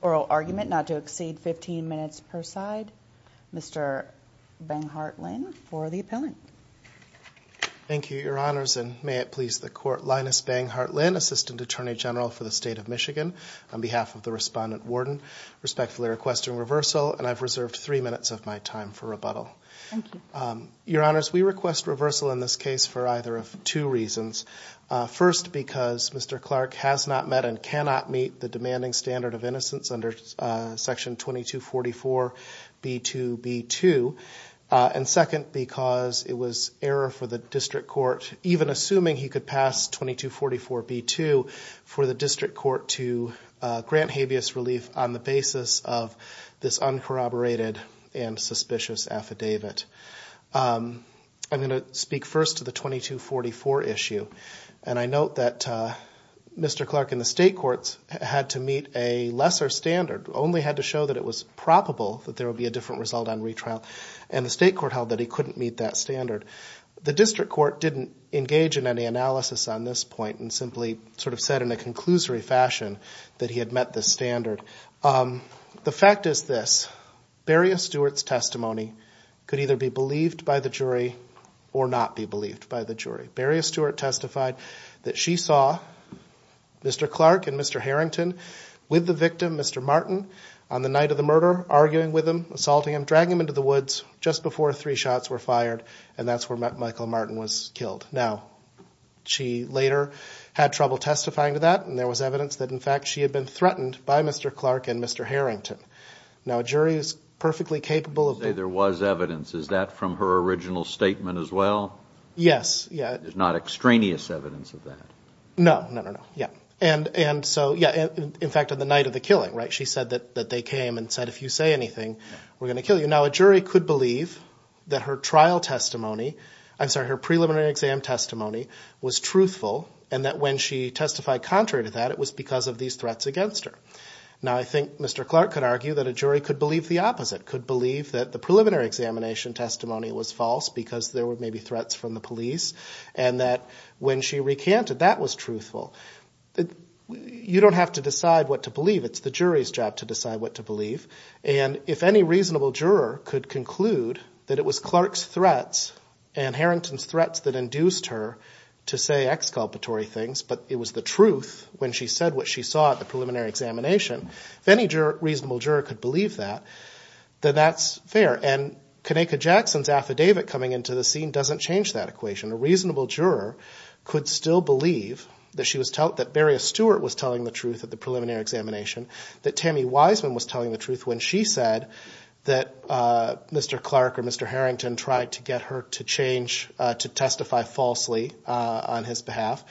Oral argument not to exceed 15 minutes per side. Mr. Benghardt Lynn for the appellant. Thank you, Your Honors, and may it please the Court, Linus Benghardt Lynn, Assistant Attorney General for the State of Michigan, on behalf of the Respondent Warden, respectfully requesting reversal, and I've reserved three minutes of my time for rebuttal. Thank you. Your Honors, we request reversal in this case for either of two reasons. First, because Mr. Clark has not met and cannot meet the demanding standard of innocence under Section 2244B2B2. And second, because it was error for the District Court, even assuming he could pass 2244B2, for the District Court to grant habeas relief on the basis of this uncorroborated and suspicious affidavit. I'm going to speak first to the 2244 issue, and I note that Mr. Clark and the State Courts had to meet a lesser standard, only had to show that it was probable that there would be a different result on retrial. And the State Court held that he couldn't meet that standard. The District Court didn't engage in any analysis on this point and simply sort of said in a conclusory fashion that he had met this standard. The fact is this, Beria Stewart's testimony could either be believed by the jury or not be believed by the jury. Beria Stewart testified that she saw Mr. Clark and Mr. Harrington with the victim, Mr. Martin, on the night of the murder, arguing with him, assaulting him, dragging him into the woods just before three shots were fired, and that's where Michael Martin was killed. Now, she later had trouble testifying to that, and there was evidence that, in fact, she had been threatened by Mr. Clark and Mr. Harrington. Now, a jury is perfectly capable of... You say there was evidence. Is that from her original statement as well? Yes, yeah. There's not extraneous evidence of that? No, no, no, no. Yeah. And so, yeah, in fact, on the night of the killing, right, she said that they came and said, if you say anything, we're going to kill you. Now, a jury could believe that her trial testimony, I'm sorry, her preliminary exam testimony was truthful, and that when she testified contrary to that, it was because of these threats against her. Now, I think Mr. Clark could argue that a jury could believe the opposite, could believe that the preliminary examination testimony was false because there were maybe threats from the police, and that when she recanted, that was truthful. You don't have to decide what to believe. It's the jury's job to decide what to believe. And if any reasonable juror could conclude that it was Clark's threats and Harrington's threats that induced her to say exculpatory things, but it was the truth when she said what she saw at the preliminary examination, if any reasonable juror could believe that, then that's fair. And Kanaka Jackson's affidavit coming into the scene doesn't change that equation. A reasonable juror could still believe that she was – that Beria Stewart was telling the truth at the preliminary examination, that Tammy Wiseman was telling the truth when she said that Mr. Clark or Mr. Harrington tried to get her to change – to testify falsely on his behalf.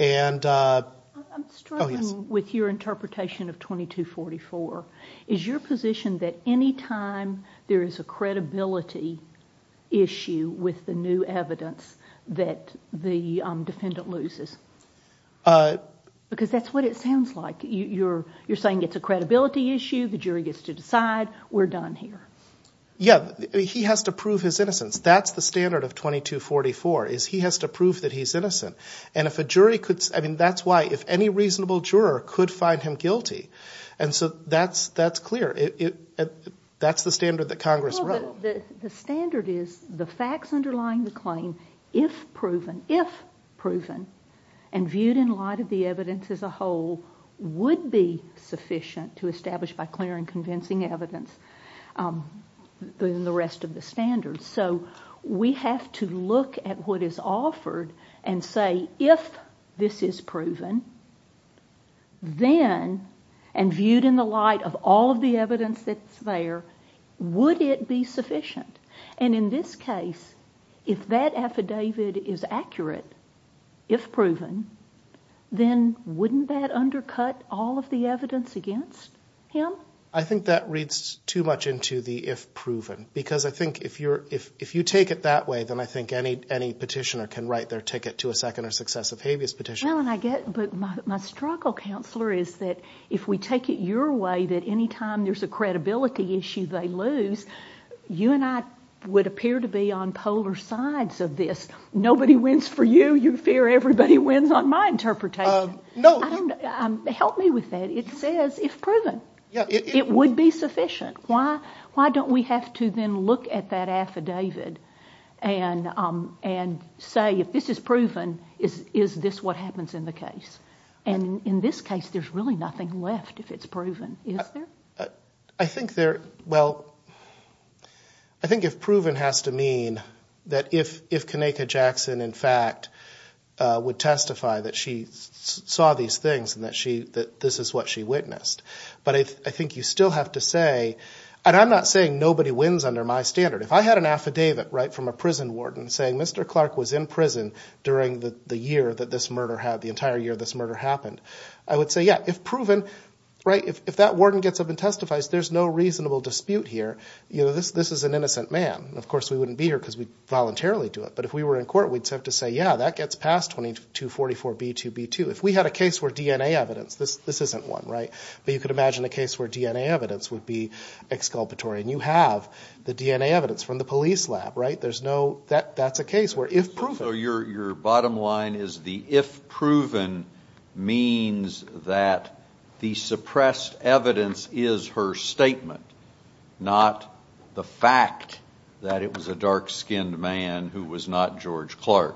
I'm struggling with your interpretation of 2244. Is your position that any time there is a credibility issue with the new evidence that the defendant loses? Because that's what it sounds like. You're saying it's a credibility issue, the jury gets to decide, we're done here. Yeah, he has to prove his innocence. That's the standard of 2244, is he has to prove that he's innocent. And if a jury could – I mean, that's why – if any reasonable juror could find him guilty. And so that's clear. That's the standard that Congress wrote. But the standard is the facts underlying the claim, if proven – if proven and viewed in light of the evidence as a whole, would be sufficient to establish by clear and convincing evidence the rest of the standards. So we have to look at what is offered and say, if this is proven, then – and viewed in the light of all of the evidence that's there – would it be sufficient? And in this case, if that affidavit is accurate, if proven, then wouldn't that undercut all of the evidence against him? I think that reads too much into the if proven. Because I think if you're – if you take it that way, then I think any petitioner can write their ticket to a second or successive habeas petition. Well, and I get – but my struggle, Counselor, is that if we take it your way, that any time there's a credibility issue they lose, you and I would appear to be on polar sides of this. Nobody wins for you, you fear everybody wins on my interpretation. No. Help me with that. It says if proven. Yeah. It would be sufficient. Why don't we have to then look at that affidavit and say, if this is proven, is this what happens in the case? And in this case, there's really nothing left if it's proven, is there? I think there – well, I think if proven has to mean that if Kanaka Jackson, in fact, would testify that she saw these things and that she – that this is what she witnessed. But I think you still have to say – and I'm not saying nobody wins under my standard. If I had an affidavit from a prison warden saying Mr. Clark was in prison during the year that this murder had – the entire year this murder happened, I would say, yeah, if proven. If that warden gets up and testifies, there's no reasonable dispute here. This is an innocent man. Of course, we wouldn't be here because we'd voluntarily do it. But if we were in court, we'd have to say, yeah, that gets past 2244B2B2. If we had a case where DNA evidence – this isn't one, right? But you could imagine a case where DNA evidence would be exculpatory. And you have the DNA evidence from the police lab, right? There's no – that's a case where if proven – the suppressed evidence is her statement, not the fact that it was a dark-skinned man who was not George Clark.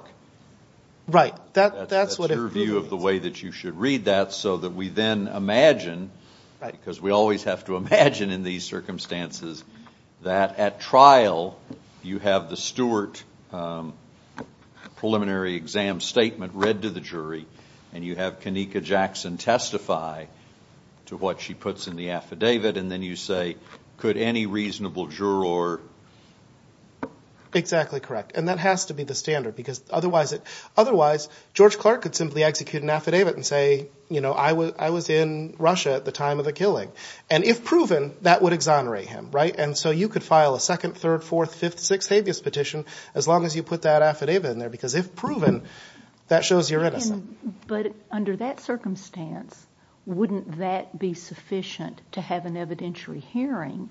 Right. That's what it really is. read that so that we then imagine – because we always have to imagine in these circumstances that at trial you have the Stewart preliminary exam statement read to the jury and you have Kanika Jackson testify to what she puts in the affidavit and then you say could any reasonable juror – and say, you know, I was in Russia at the time of the killing. And if proven, that would exonerate him, right? And so you could file a second, third, fourth, fifth, sixth habeas petition as long as you put that affidavit in there because if proven, that shows you're innocent. But under that circumstance, wouldn't that be sufficient to have an evidentiary hearing?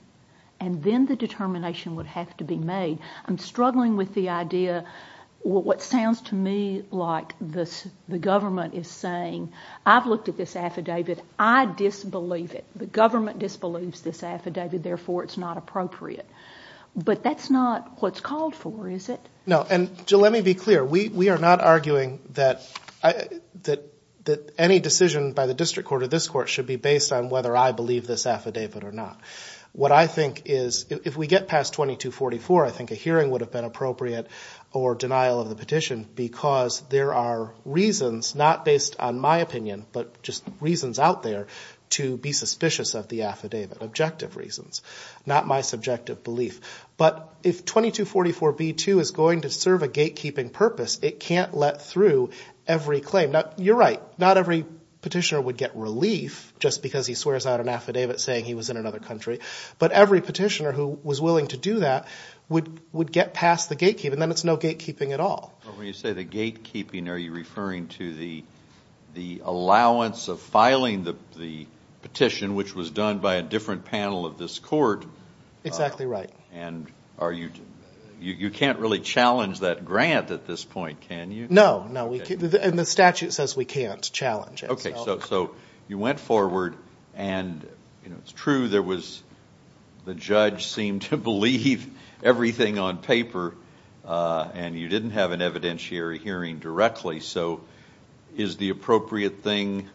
And then the determination would have to be made. I'm struggling with the idea – what sounds to me like the government is saying, I've looked at this affidavit, I disbelieve it. The government disbelieves this affidavit, therefore it's not appropriate. But that's not what's called for, is it? No, and Jill, let me be clear. We are not arguing that any decision by the district court or this court should be based on whether I believe this affidavit or not. What I think is if we get past 2244, I think a hearing would have been appropriate or denial of the petition because there are reasons, not based on my opinion, but just reasons out there to be suspicious of the affidavit, objective reasons, not my subjective belief. But if 2244B2 is going to serve a gatekeeping purpose, it can't let through every claim. Now, you're right. Not every petitioner would get relief just because he swears out an affidavit saying he was in another country. But every petitioner who was willing to do that would get past the gatekeeping. Then it's no gatekeeping at all. When you say the gatekeeping, are you referring to the allowance of filing the petition, which was done by a different panel of this court? Exactly right. And you can't really challenge that grant at this point, can you? No, no. And the statute says we can't challenge it. Okay. So you went forward and it's true there was the judge seemed to believe everything on paper and you didn't have an evidentiary hearing directly. So is the appropriate thing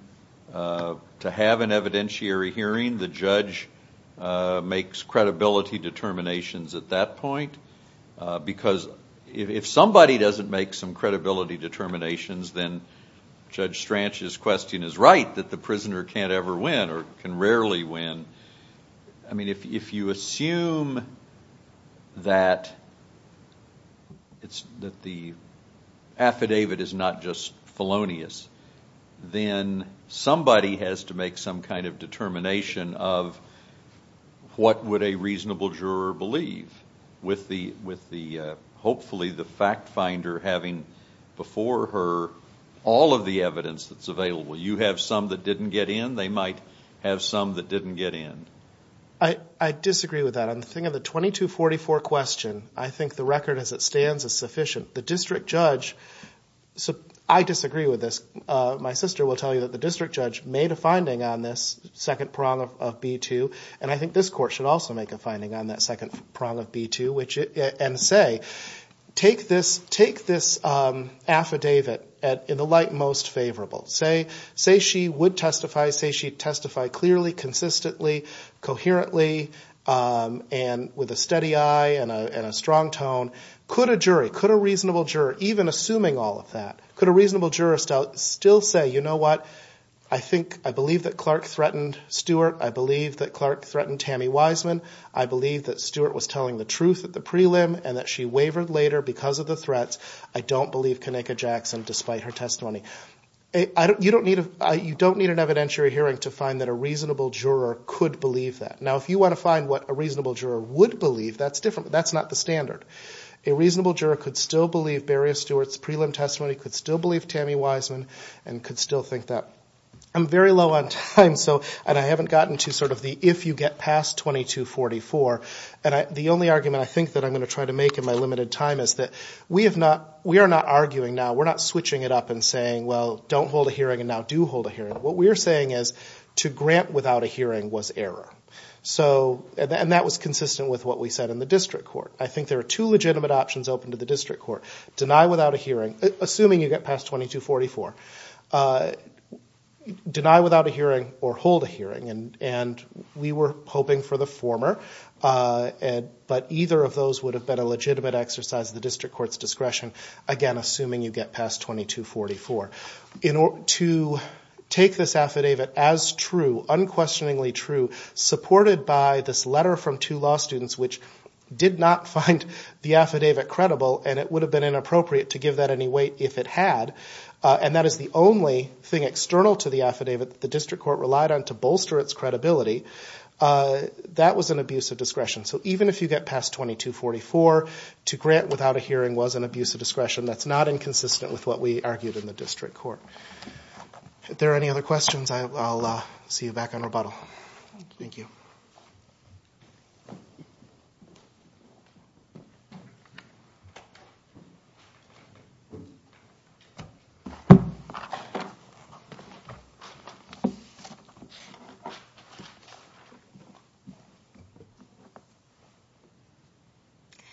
to have an evidentiary hearing? The judge makes credibility determinations at that point. Because if somebody doesn't make some credibility determinations, then Judge Stranch's question is right, that the prisoner can't ever win or can rarely win. I mean, if you assume that the affidavit is not just felonious, then somebody has to make some kind of determination of what would a reasonable juror believe with the hopefully the fact finder having before her all of the evidence that's available. You have some that didn't get in, they might have some that didn't get in. I disagree with that. On the thing of the 2244 question, I think the record as it stands is sufficient. I disagree with this. My sister will tell you that the district judge made a finding on this second prong of B2 and I think this court should also make a finding on that second prong of B2 and say, take this affidavit in the light most favorable. Say she would testify, say she'd testify clearly, consistently, coherently, and with a steady eye and a strong tone. Could a jury, could a reasonable juror, even assuming all of that, could a reasonable juror still say, you know what, I believe that Clark threatened Stewart, I believe that Clark threatened Tammy Wiseman, I believe that Stewart was telling the truth at the prelim and that she wavered later because of the threats. I don't believe Kenneka Jackson despite her testimony. You don't need an evidentiary hearing to find that a reasonable juror could believe that. Now if you want to find what a reasonable juror would believe, that's different. That's not the standard. A reasonable juror could still believe Beria Stewart's prelim testimony, could still believe Tammy Wiseman, and could still think that. I'm very low on time so, and I haven't gotten to sort of the if you get past 2244, and the only argument I think that I'm going to try to make in my limited time is that we have not, we are not arguing now. We're not switching it up and saying, well, don't hold a hearing and now do hold a hearing. What we're saying is to grant without a hearing was error. So, and that was consistent with what we said in the district court. I think there are two legitimate options open to the district court. Deny without a hearing, assuming you get past 2244. Deny without a hearing or hold a hearing. And we were hoping for the former, but either of those would have been a legitimate exercise of the district court's discretion, again, assuming you get past 2244. To take this affidavit as true, unquestioningly true, supported by this letter from two law students, which did not find the affidavit credible, and it would have been inappropriate to give that any weight if it had. And that is the only thing external to the affidavit that the district court relied on to bolster its credibility. That was an abuse of discretion. So even if you get past 2244, to grant without a hearing was an abuse of discretion. That's not inconsistent with what we argued in the district court. If there are any other questions, I'll see you back on rebuttal. Thank you.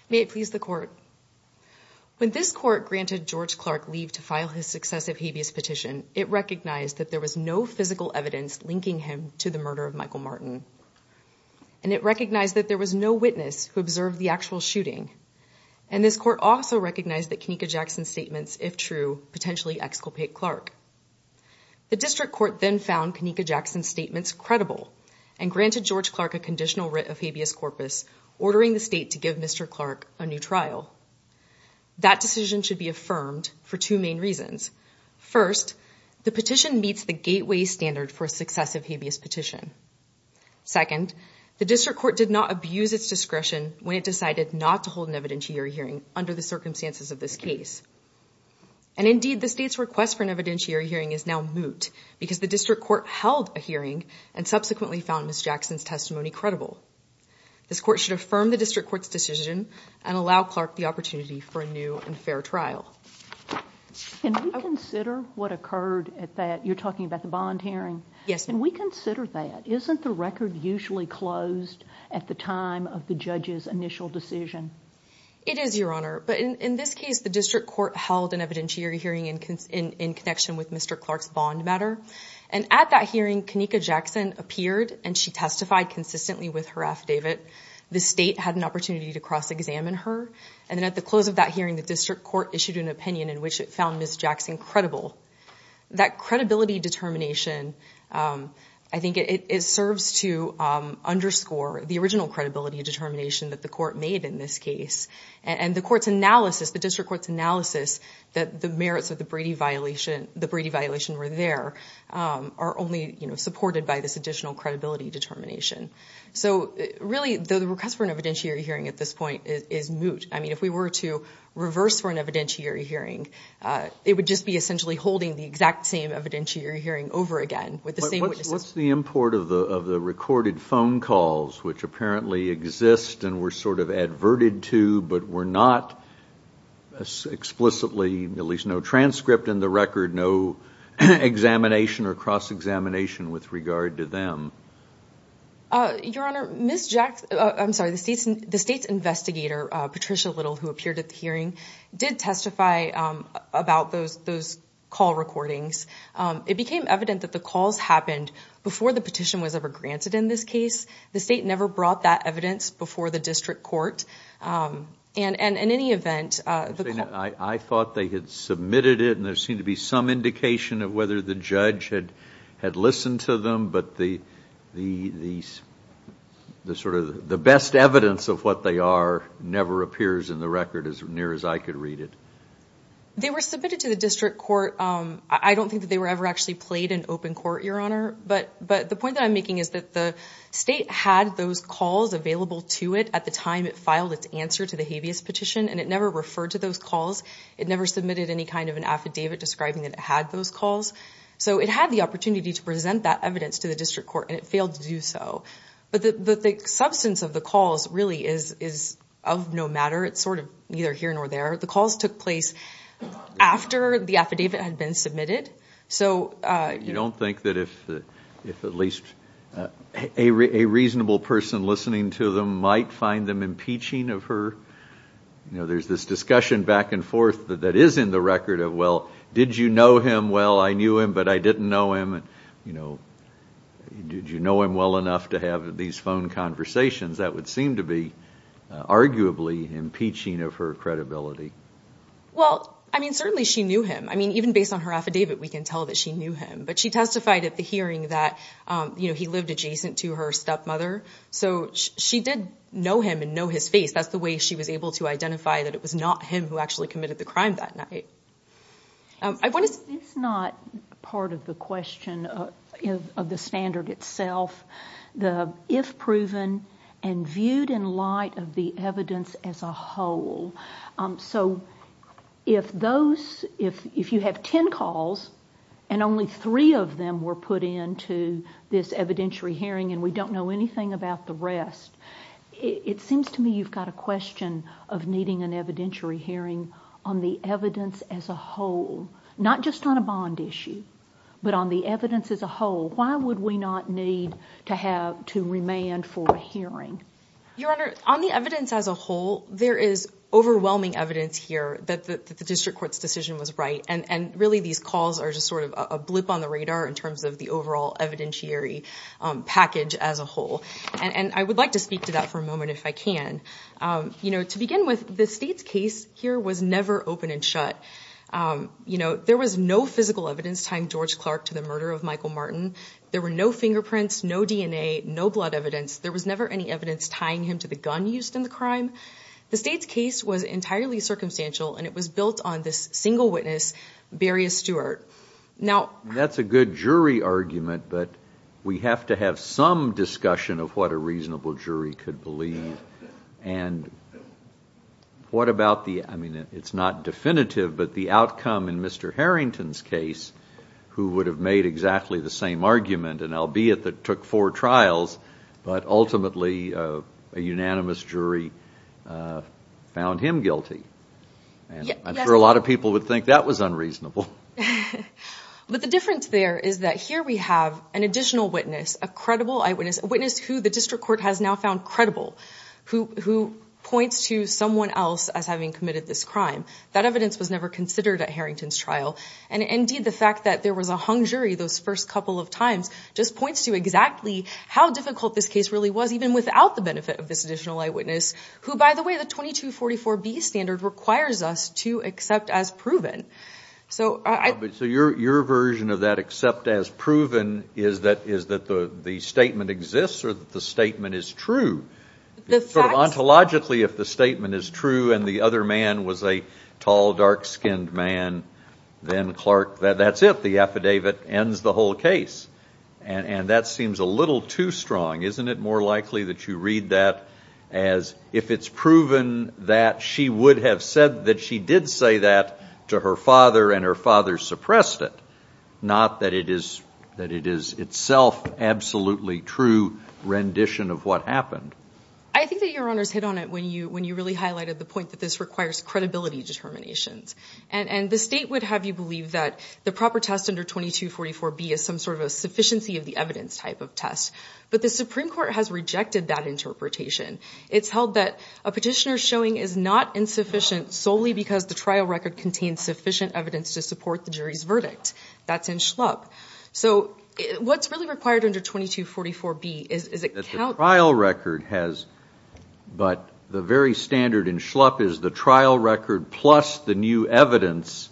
May it please the court. When this court granted George Clark leave to file his successive habeas petition, it recognized that there was no physical evidence linking him to the murder of Michael Martin. And it recognized that there was no witness who observed the actual shooting. And this court also recognized that Kenneka Jackson statements, if true, potentially exculpate Clark. The district court then found Kenneka Jackson statements credible and granted George Clark a conditional writ of habeas corpus, ordering the state to give Mr. Clark a new trial. That decision should be affirmed for two main reasons. First, the petition meets the gateway standard for successive habeas petition. Second, the district court did not abuse its discretion when it decided not to hold an evidentiary hearing under the circumstances of this case. And indeed, the state's request for an evidentiary hearing is now moot because the district court held a hearing and subsequently found Ms. Jackson's testimony credible. This court should affirm the district court's decision and allow Clark the opportunity for a new and fair trial. Can we consider what occurred at that, you're talking about the bond hearing? Yes. Can we consider that? Isn't the record usually closed at the time of the judge's initial decision? It is, Your Honor. But in this case, the district court held an evidentiary hearing in connection with Mr. Clark's bond matter. And at that hearing, Kenneka Jackson appeared and she testified consistently with her affidavit. The state had an opportunity to cross-examine her. And then at the close of that hearing, the district court issued an opinion in which it found Ms. Jackson credible. That credibility determination, I think it serves to underscore the original credibility determination that the court made in this case. And the court's analysis, the district court's analysis that the merits of the Brady violation were there are only supported by this additional credibility determination. So really, the request for an evidentiary hearing at this point is moot. I mean, if we were to reverse for an evidentiary hearing, it would just be essentially holding the exact same evidentiary hearing over again with the same witnesses. What's the import of the recorded phone calls, which apparently exist and were sort of adverted to but were not explicitly, at least no transcript in the record, no examination or cross-examination with regard to them? Your Honor, Ms. Jackson, I'm sorry, the state's investigator, Patricia Little, who appeared at the hearing, did testify about those call recordings. It became evident that the calls happened before the petition was ever granted in this case. The state never brought that evidence before the district court. I thought they had submitted it, and there seemed to be some indication of whether the judge had listened to them, but the best evidence of what they are never appears in the record as near as I could read it. They were submitted to the district court. I don't think that they were ever actually played in open court, Your Honor. But the point that I'm making is that the state had those calls available to it at the time it filed its answer to the habeas petition, and it never referred to those calls. It never submitted any kind of an affidavit describing that it had those calls. So it had the opportunity to present that evidence to the district court, and it failed to do so. But the substance of the calls really is of no matter. It's sort of neither here nor there. The calls took place after the affidavit had been submitted. You don't think that if at least a reasonable person listening to them might find them impeaching of her? There's this discussion back and forth that is in the record of, well, did you know him well? I knew him, but I didn't know him. Did you know him well enough to have these phone conversations? That would seem to be arguably impeaching of her credibility. Well, I mean, certainly she knew him. I mean, even based on her affidavit, we can tell that she knew him. But she testified at the hearing that he lived adjacent to her stepmother. So she did know him and know his face. That's the way she was able to identify that it was not him who actually committed the crime that night. It's not part of the question of the standard itself. The if proven and viewed in light of the evidence as a whole. So if you have ten calls and only three of them were put into this evidentiary hearing and we don't know anything about the rest, it seems to me you've got a question of needing an evidentiary hearing on the evidence as a whole. Not just on a bond issue, but on the evidence as a whole. Why would we not need to remand for a hearing? Your Honor, on the evidence as a whole, there is overwhelming evidence here that the district court's decision was right. And really these calls are just sort of a blip on the radar in terms of the overall evidentiary package as a whole. And I would like to speak to that for a moment if I can. You know, to begin with, the state's case here was never open and shut. You know, there was no physical evidence tying George Clark to the murder of Michael Martin. There were no fingerprints, no DNA, no blood evidence. There was never any evidence tying him to the gun used in the crime. The state's case was entirely circumstantial and it was built on this single witness, Beria Stewart. Now... That's a good jury argument, but we have to have some discussion of what a reasonable jury could believe. And what about the, I mean, it's not definitive, but the outcome in Mr. Harrington's case, who would have made exactly the same argument, and albeit that it took four trials, but ultimately a unanimous jury found him guilty. I'm sure a lot of people would think that was unreasonable. But the difference there is that here we have an additional witness, a credible eyewitness, a witness who the district court has now found credible, who points to someone else as having committed this crime. That evidence was never considered at Harrington's trial. And, indeed, the fact that there was a hung jury those first couple of times just points to exactly how difficult this case really was, even without the benefit of this additional eyewitness, who, by the way, the 2244B standard requires us to accept as proven. So your version of that, accept as proven, is that the statement exists or that the statement is true? Sort of ontologically, if the statement is true and the other man was a tall, dark-skinned man, then Clark, that's it. The affidavit ends the whole case. And that seems a little too strong. Isn't it more likely that you read that as if it's proven that she would have said that she did say that to her father and her father suppressed it, not that it is itself absolutely true rendition of what happened? I think that Your Honors hit on it when you really highlighted the point that this requires credibility determinations. And the state would have you believe that the proper test under 2244B is some sort of a sufficiency of the evidence type of test. But the Supreme Court has rejected that interpretation. It's held that a petitioner's showing is not insufficient solely because the trial record contains sufficient evidence to support the jury's verdict. That's in Schlupp. So what's really required under 2244B is it counts as true. But the very standard in Schlupp is the trial record plus the new evidence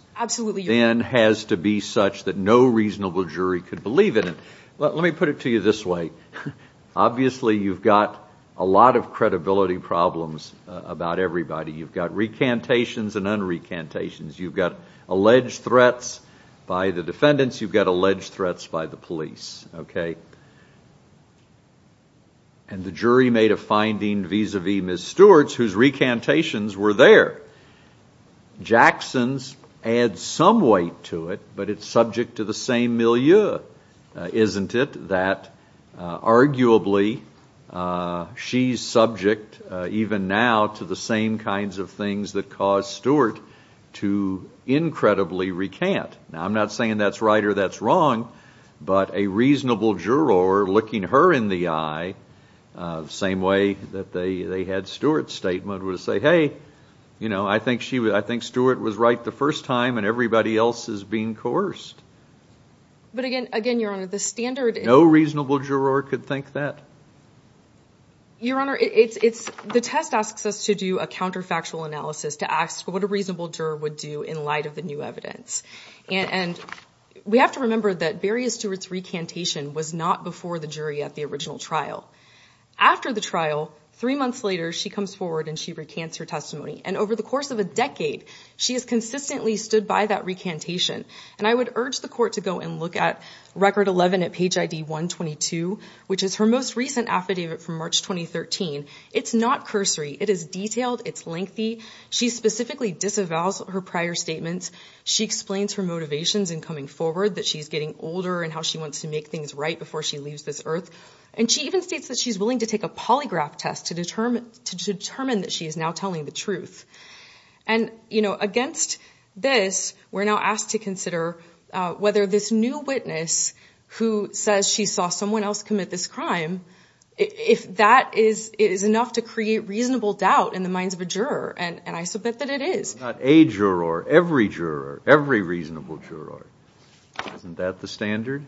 then has to be such that no reasonable jury could believe it. Let me put it to you this way. Obviously, you've got a lot of credibility problems about everybody. You've got recantations and unrecantations. You've got alleged threats by the defendants. You've got alleged threats by the police. Okay? And the jury made a finding vis-à-vis Ms. Stewart's whose recantations were there. Jackson's adds some weight to it, but it's subject to the same milieu, isn't it? That arguably she's subject even now to the same kinds of things that caused Stewart to incredibly recant. Now, I'm not saying that's right or that's wrong, but a reasonable juror looking her in the eye the same way that they had Stewart's statement would say, hey, you know, I think Stewart was right the first time and everybody else is being coerced. But again, Your Honor, the standard is... No reasonable juror could think that. Your Honor, the test asks us to do a counterfactual analysis to ask what a reasonable juror would do in light of the new evidence. And we have to remember that Beria Stewart's recantation was not before the jury at the original trial. After the trial, three months later, she comes forward and she recants her testimony. And over the course of a decade, she has consistently stood by that recantation. And I would urge the court to go and look at Record 11 at Page ID 122, which is her most recent affidavit from March 2013. It's not cursory. It is detailed. It's lengthy. She specifically disavows her prior statements. She explains her motivations in coming forward, that she's getting older and how she wants to make things right before she leaves this earth. And she even states that she's willing to take a polygraph test to determine that she is now telling the truth. And, you know, against this, we're now asked to consider whether this new witness who says she saw someone else commit this crime, if that is enough to create reasonable doubt in the minds of a juror, and I so bet that it is. Not a juror, every juror, every reasonable juror. Isn't that the standard?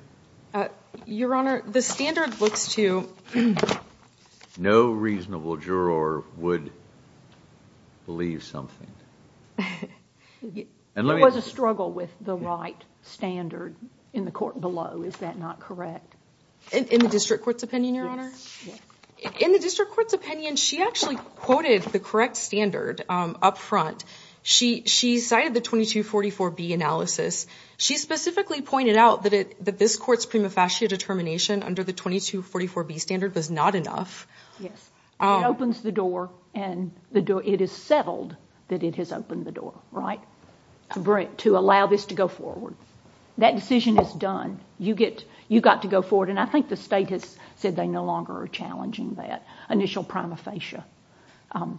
Your Honor, the standard looks to you. No reasonable juror would believe something. There was a struggle with the right standard in the court below. Is that not correct? In the district court's opinion, Your Honor? Yes. In the district court's opinion, she actually quoted the correct standard up front. She cited the 2244B analysis. She specifically pointed out that this court's prima facie determination under the 2244B standard was not enough. Yes. It opens the door, and it is settled that it has opened the door, right, to allow this to go forward. That decision is done. You got to go forward, and I think the state has said they no longer are challenging that initial prima facie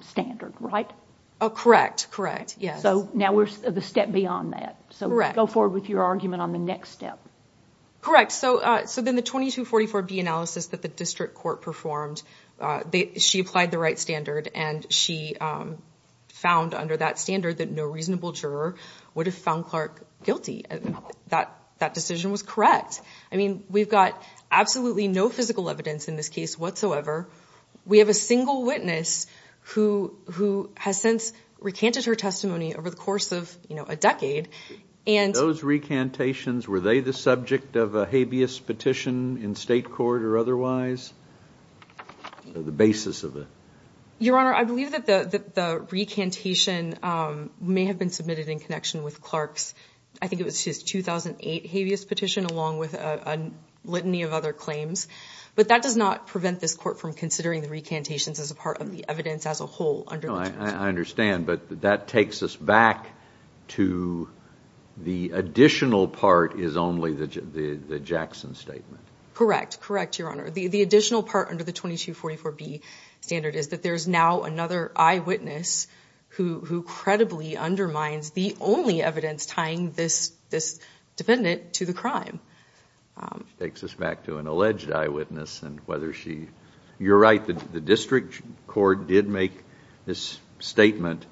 standard, right? Correct, correct, yes. Now we're a step beyond that. Correct. Go forward with your argument on the next step. Correct. Then the 2244B analysis that the district court performed, she applied the right standard, and she found under that standard that no reasonable juror would have found Clark guilty. That decision was correct. I mean, we've got absolutely no physical evidence in this case whatsoever. We have a single witness who has since recanted her testimony over the course of, you know, a decade. Those recantations, were they the subject of a habeas petition in state court or otherwise? The basis of it. Your Honor, I believe that the recantation may have been submitted in connection with Clark's, I think it was his 2008 habeas petition along with a litany of other claims, but that does not prevent this court from considering the recantations as a part of the evidence as a whole. I understand, but that takes us back to the additional part is only the Jackson statement. Correct, correct, Your Honor. The additional part under the 2244B standard is that there is now another eyewitness who credibly undermines the only evidence tying this defendant to the crime. Takes us back to an alleged eyewitness and whether she, you're right, the district court did make this statement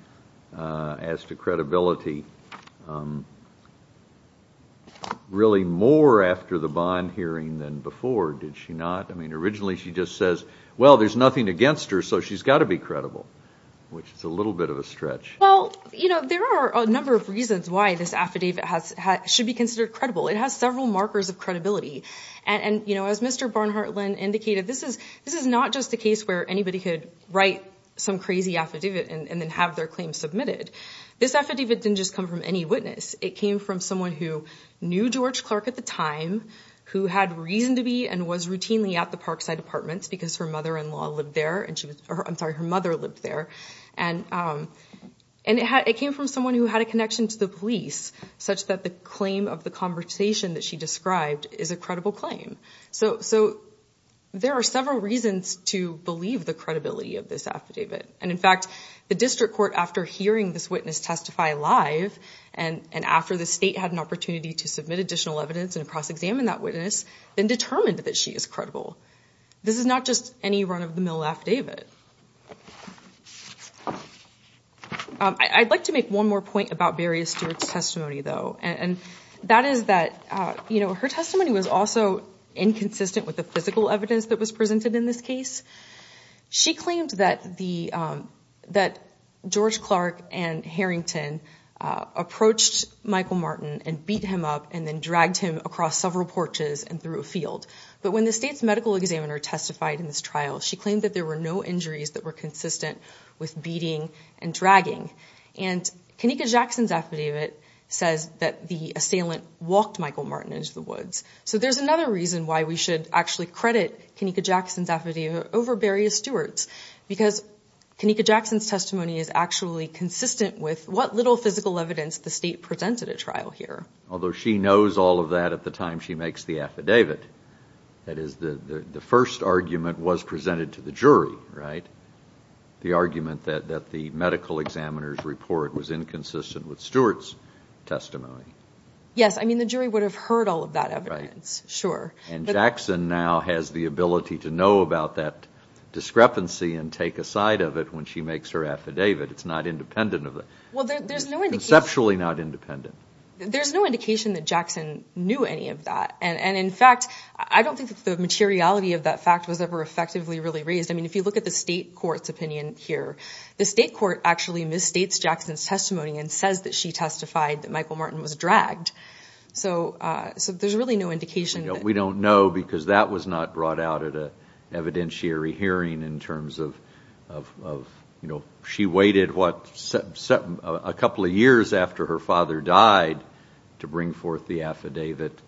as to credibility really more after the bond hearing than before, did she not? I mean, originally she just says, well, there's nothing against her, so she's got to be credible, which is a little bit of a stretch. Well, you know, there are a number of reasons why this affidavit should be considered credible. It has several markers of credibility. And, you know, as Mr. Barnhart Lynn indicated, this is not just a case where anybody could write some crazy affidavit and then have their claim submitted. This affidavit didn't just come from any witness. It came from someone who knew George Clark at the time, who had reason to be and was routinely at the Parkside Apartments because her mother-in-law lived there, I'm sorry, her mother lived there, and it came from someone who had a connection to the police such that the claim of the conversation that she described is a credible claim. So there are several reasons to believe the credibility of this affidavit. And, in fact, the district court, after hearing this witness testify live and after the state had an opportunity to submit additional evidence and cross-examine that witness, then determined that she is credible. This is not just any run-of-the-mill affidavit. I'd like to make one more point about Beria Stewart's testimony, though, and that is that, you know, her testimony was also inconsistent with the physical evidence that was presented in this case. She claimed that George Clark and Harrington approached Michael Martin and beat him up and then dragged him across several porches and through a field. But when the state's medical examiner testified in this trial, she claimed that there were no injuries that were consistent with beating and dragging. And Kenneka Jackson's affidavit says that the assailant walked Michael Martin into the woods. So there's another reason why we should actually credit Kenneka Jackson's affidavit over Beria Stewart's, because Kenneka Jackson's testimony is actually consistent with what little physical evidence the state presented at trial here. Although she knows all of that at the time she makes the affidavit. That is, the first argument was presented to the jury, right? The argument that the medical examiner's report was inconsistent with Stewart's testimony. Yes, I mean, the jury would have heard all of that evidence, sure. And Jackson now has the ability to know about that discrepancy and take a side of it when she makes her affidavit. It's not independent of it, conceptually not independent. There's no indication that Jackson knew any of that. And, in fact, I don't think the materiality of that fact was ever effectively really raised. I mean, if you look at the state court's opinion here, the state court actually misstates Jackson's testimony and says that she testified that Michael Martin was dragged. So there's really no indication. We don't know because that was not brought out at an evidentiary hearing in terms of, you know, she waited, what, a couple of years after her father died to bring forth the affidavit.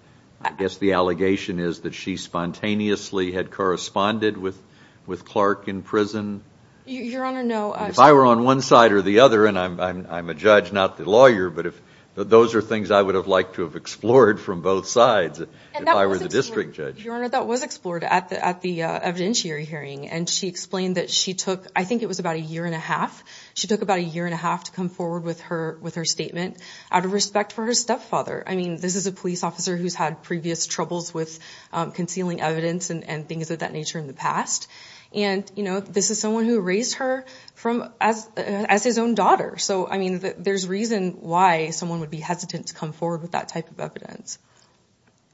I guess the allegation is that she spontaneously had corresponded with Clark in prison. Your Honor, no. If I were on one side or the other, and I'm a judge, not the lawyer, but those are things I would have liked to have explored from both sides if I were the district judge. Your Honor, that was explored at the evidentiary hearing. And she explained that she took, I think it was about a year and a half, she took about a year and a half to come forward with her statement out of respect for her stepfather. I mean, this is a police officer who's had previous troubles with concealing evidence and things of that nature in the past. And, you know, this is someone who raised her as his own daughter. So, I mean, there's reason why someone would be hesitant to come forward with that type of evidence.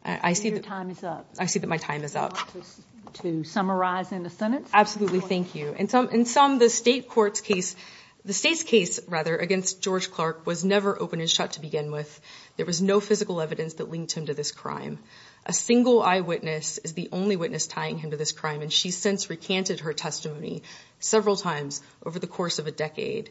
I see that my time is up. Do you want to summarize in a sentence? Absolutely, thank you. In sum, the state's case against George Clark was never open and shut to begin with. There was no physical evidence that linked him to this crime. A single eyewitness is the only witness tying him to this crime, and she's since recanted her testimony several times over the course of a decade.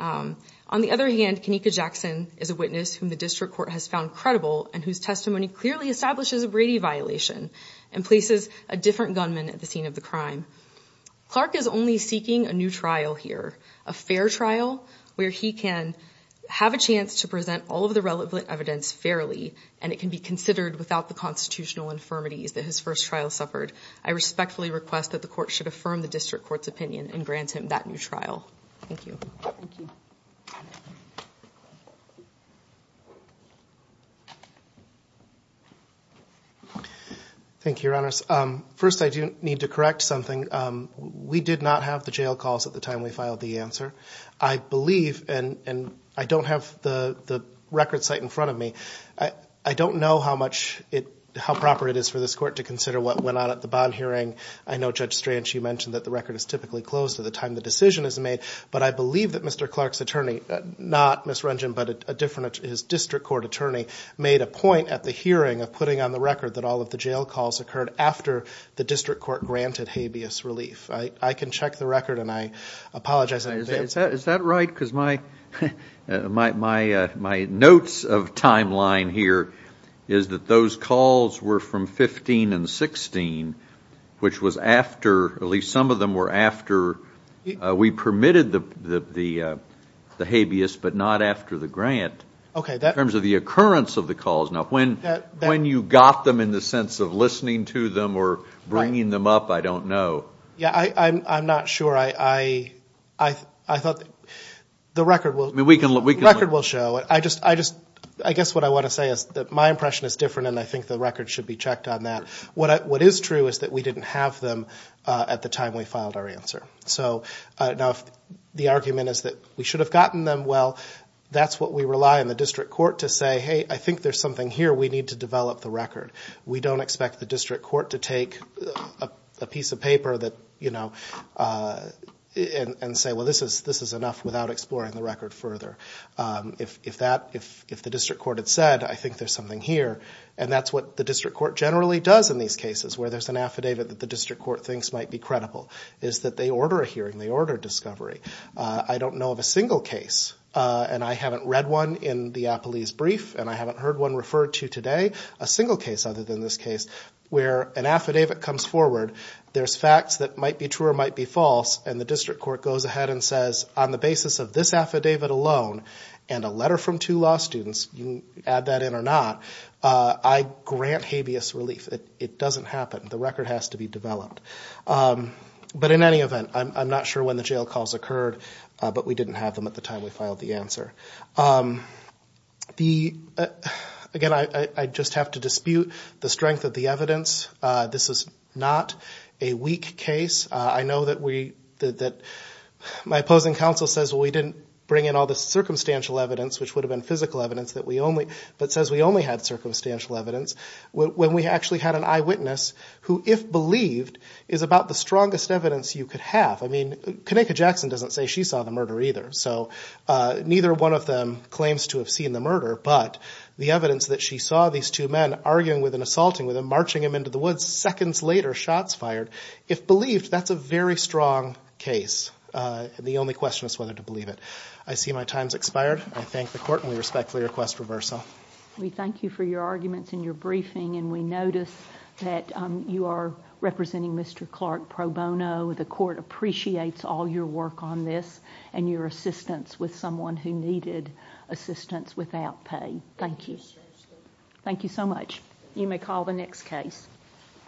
On the other hand, Kenneka Jackson is a witness whom the district court has found credible and whose testimony clearly establishes a Brady violation and places a different gunman at the scene of the crime. Clark is only seeking a new trial here, a fair trial where he can have a chance to present all of the relevant evidence fairly and it can be considered without the constitutional infirmities that his first trial suffered. I respectfully request that the court should affirm the district court's opinion and grant him that new trial. Thank you. Thank you. Thank you, Your Honors. First, I do need to correct something. We did not have the jail calls at the time we filed the answer. I believe, and I don't have the record site in front of me, I don't know how proper it is for this court to consider what went on at the bond hearing. I know, Judge Strange, you mentioned that the record is typically closed at the time the decision is made, but I believe that Mr. Clark's attorney, not Ms. Wrengen but a different district court attorney, made a point at the hearing of putting on the record that all of the jail calls occurred after the district court granted habeas relief. I can check the record and I apologize. Is that right? Because my notes of timeline here is that those calls were from 15 and 16, which was after, at least some of them were after we permitted the habeas but not after the grant. Okay. In terms of the occurrence of the calls. Now, when you got them in the sense of listening to them or bringing them up, I don't know. Yeah, I'm not sure. I thought the record will show. I guess what I want to say is that my impression is different and I think the record should be checked on that. What is true is that we didn't have them at the time we filed our answer. Now, if the argument is that we should have gotten them, well, that's what we rely on the district court to say, hey, I think there's something here we need to develop the record. We don't expect the district court to take a piece of paper and say, well, this is enough without exploring the record further. If the district court had said, I think there's something here, and that's what the district court generally does in these cases where there's an affidavit that the district court thinks might be credible is that they order a hearing, they order discovery. I don't know of a single case, and I haven't read one in the appellee's brief and I haven't heard one referred to today, a single case other than this case where an affidavit comes forward, there's facts that might be true or might be false, and the district court goes ahead and says, on the basis of this affidavit alone and a letter from two law students, add that in or not, I grant habeas relief. It doesn't happen. The record has to be developed. But in any event, I'm not sure when the jail calls occurred, but we didn't have them at the time we filed the answer. Again, I just have to dispute the strength of the evidence. This is not a weak case. I know that my opposing counsel says, well, we didn't bring in all this circumstantial evidence, which would have been physical evidence, but says we only had circumstantial evidence. When we actually had an eyewitness who, if believed, is about the strongest evidence you could have. I mean, Kanaka Jackson doesn't say she saw the murder either, so neither one of them claims to have seen the murder, but the evidence that she saw these two men arguing with and assaulting with him, marching him into the woods, seconds later, shots fired. If believed, that's a very strong case. The only question is whether to believe it. I see my time has expired. I thank the Court and we respectfully request reversal. We thank you for your arguments and your briefing, and we notice that you are representing Mr. Clark pro bono. The Court appreciates all your work on this and your assistance with someone who needed assistance without pay. Thank you. Thank you so much. You may call the next case.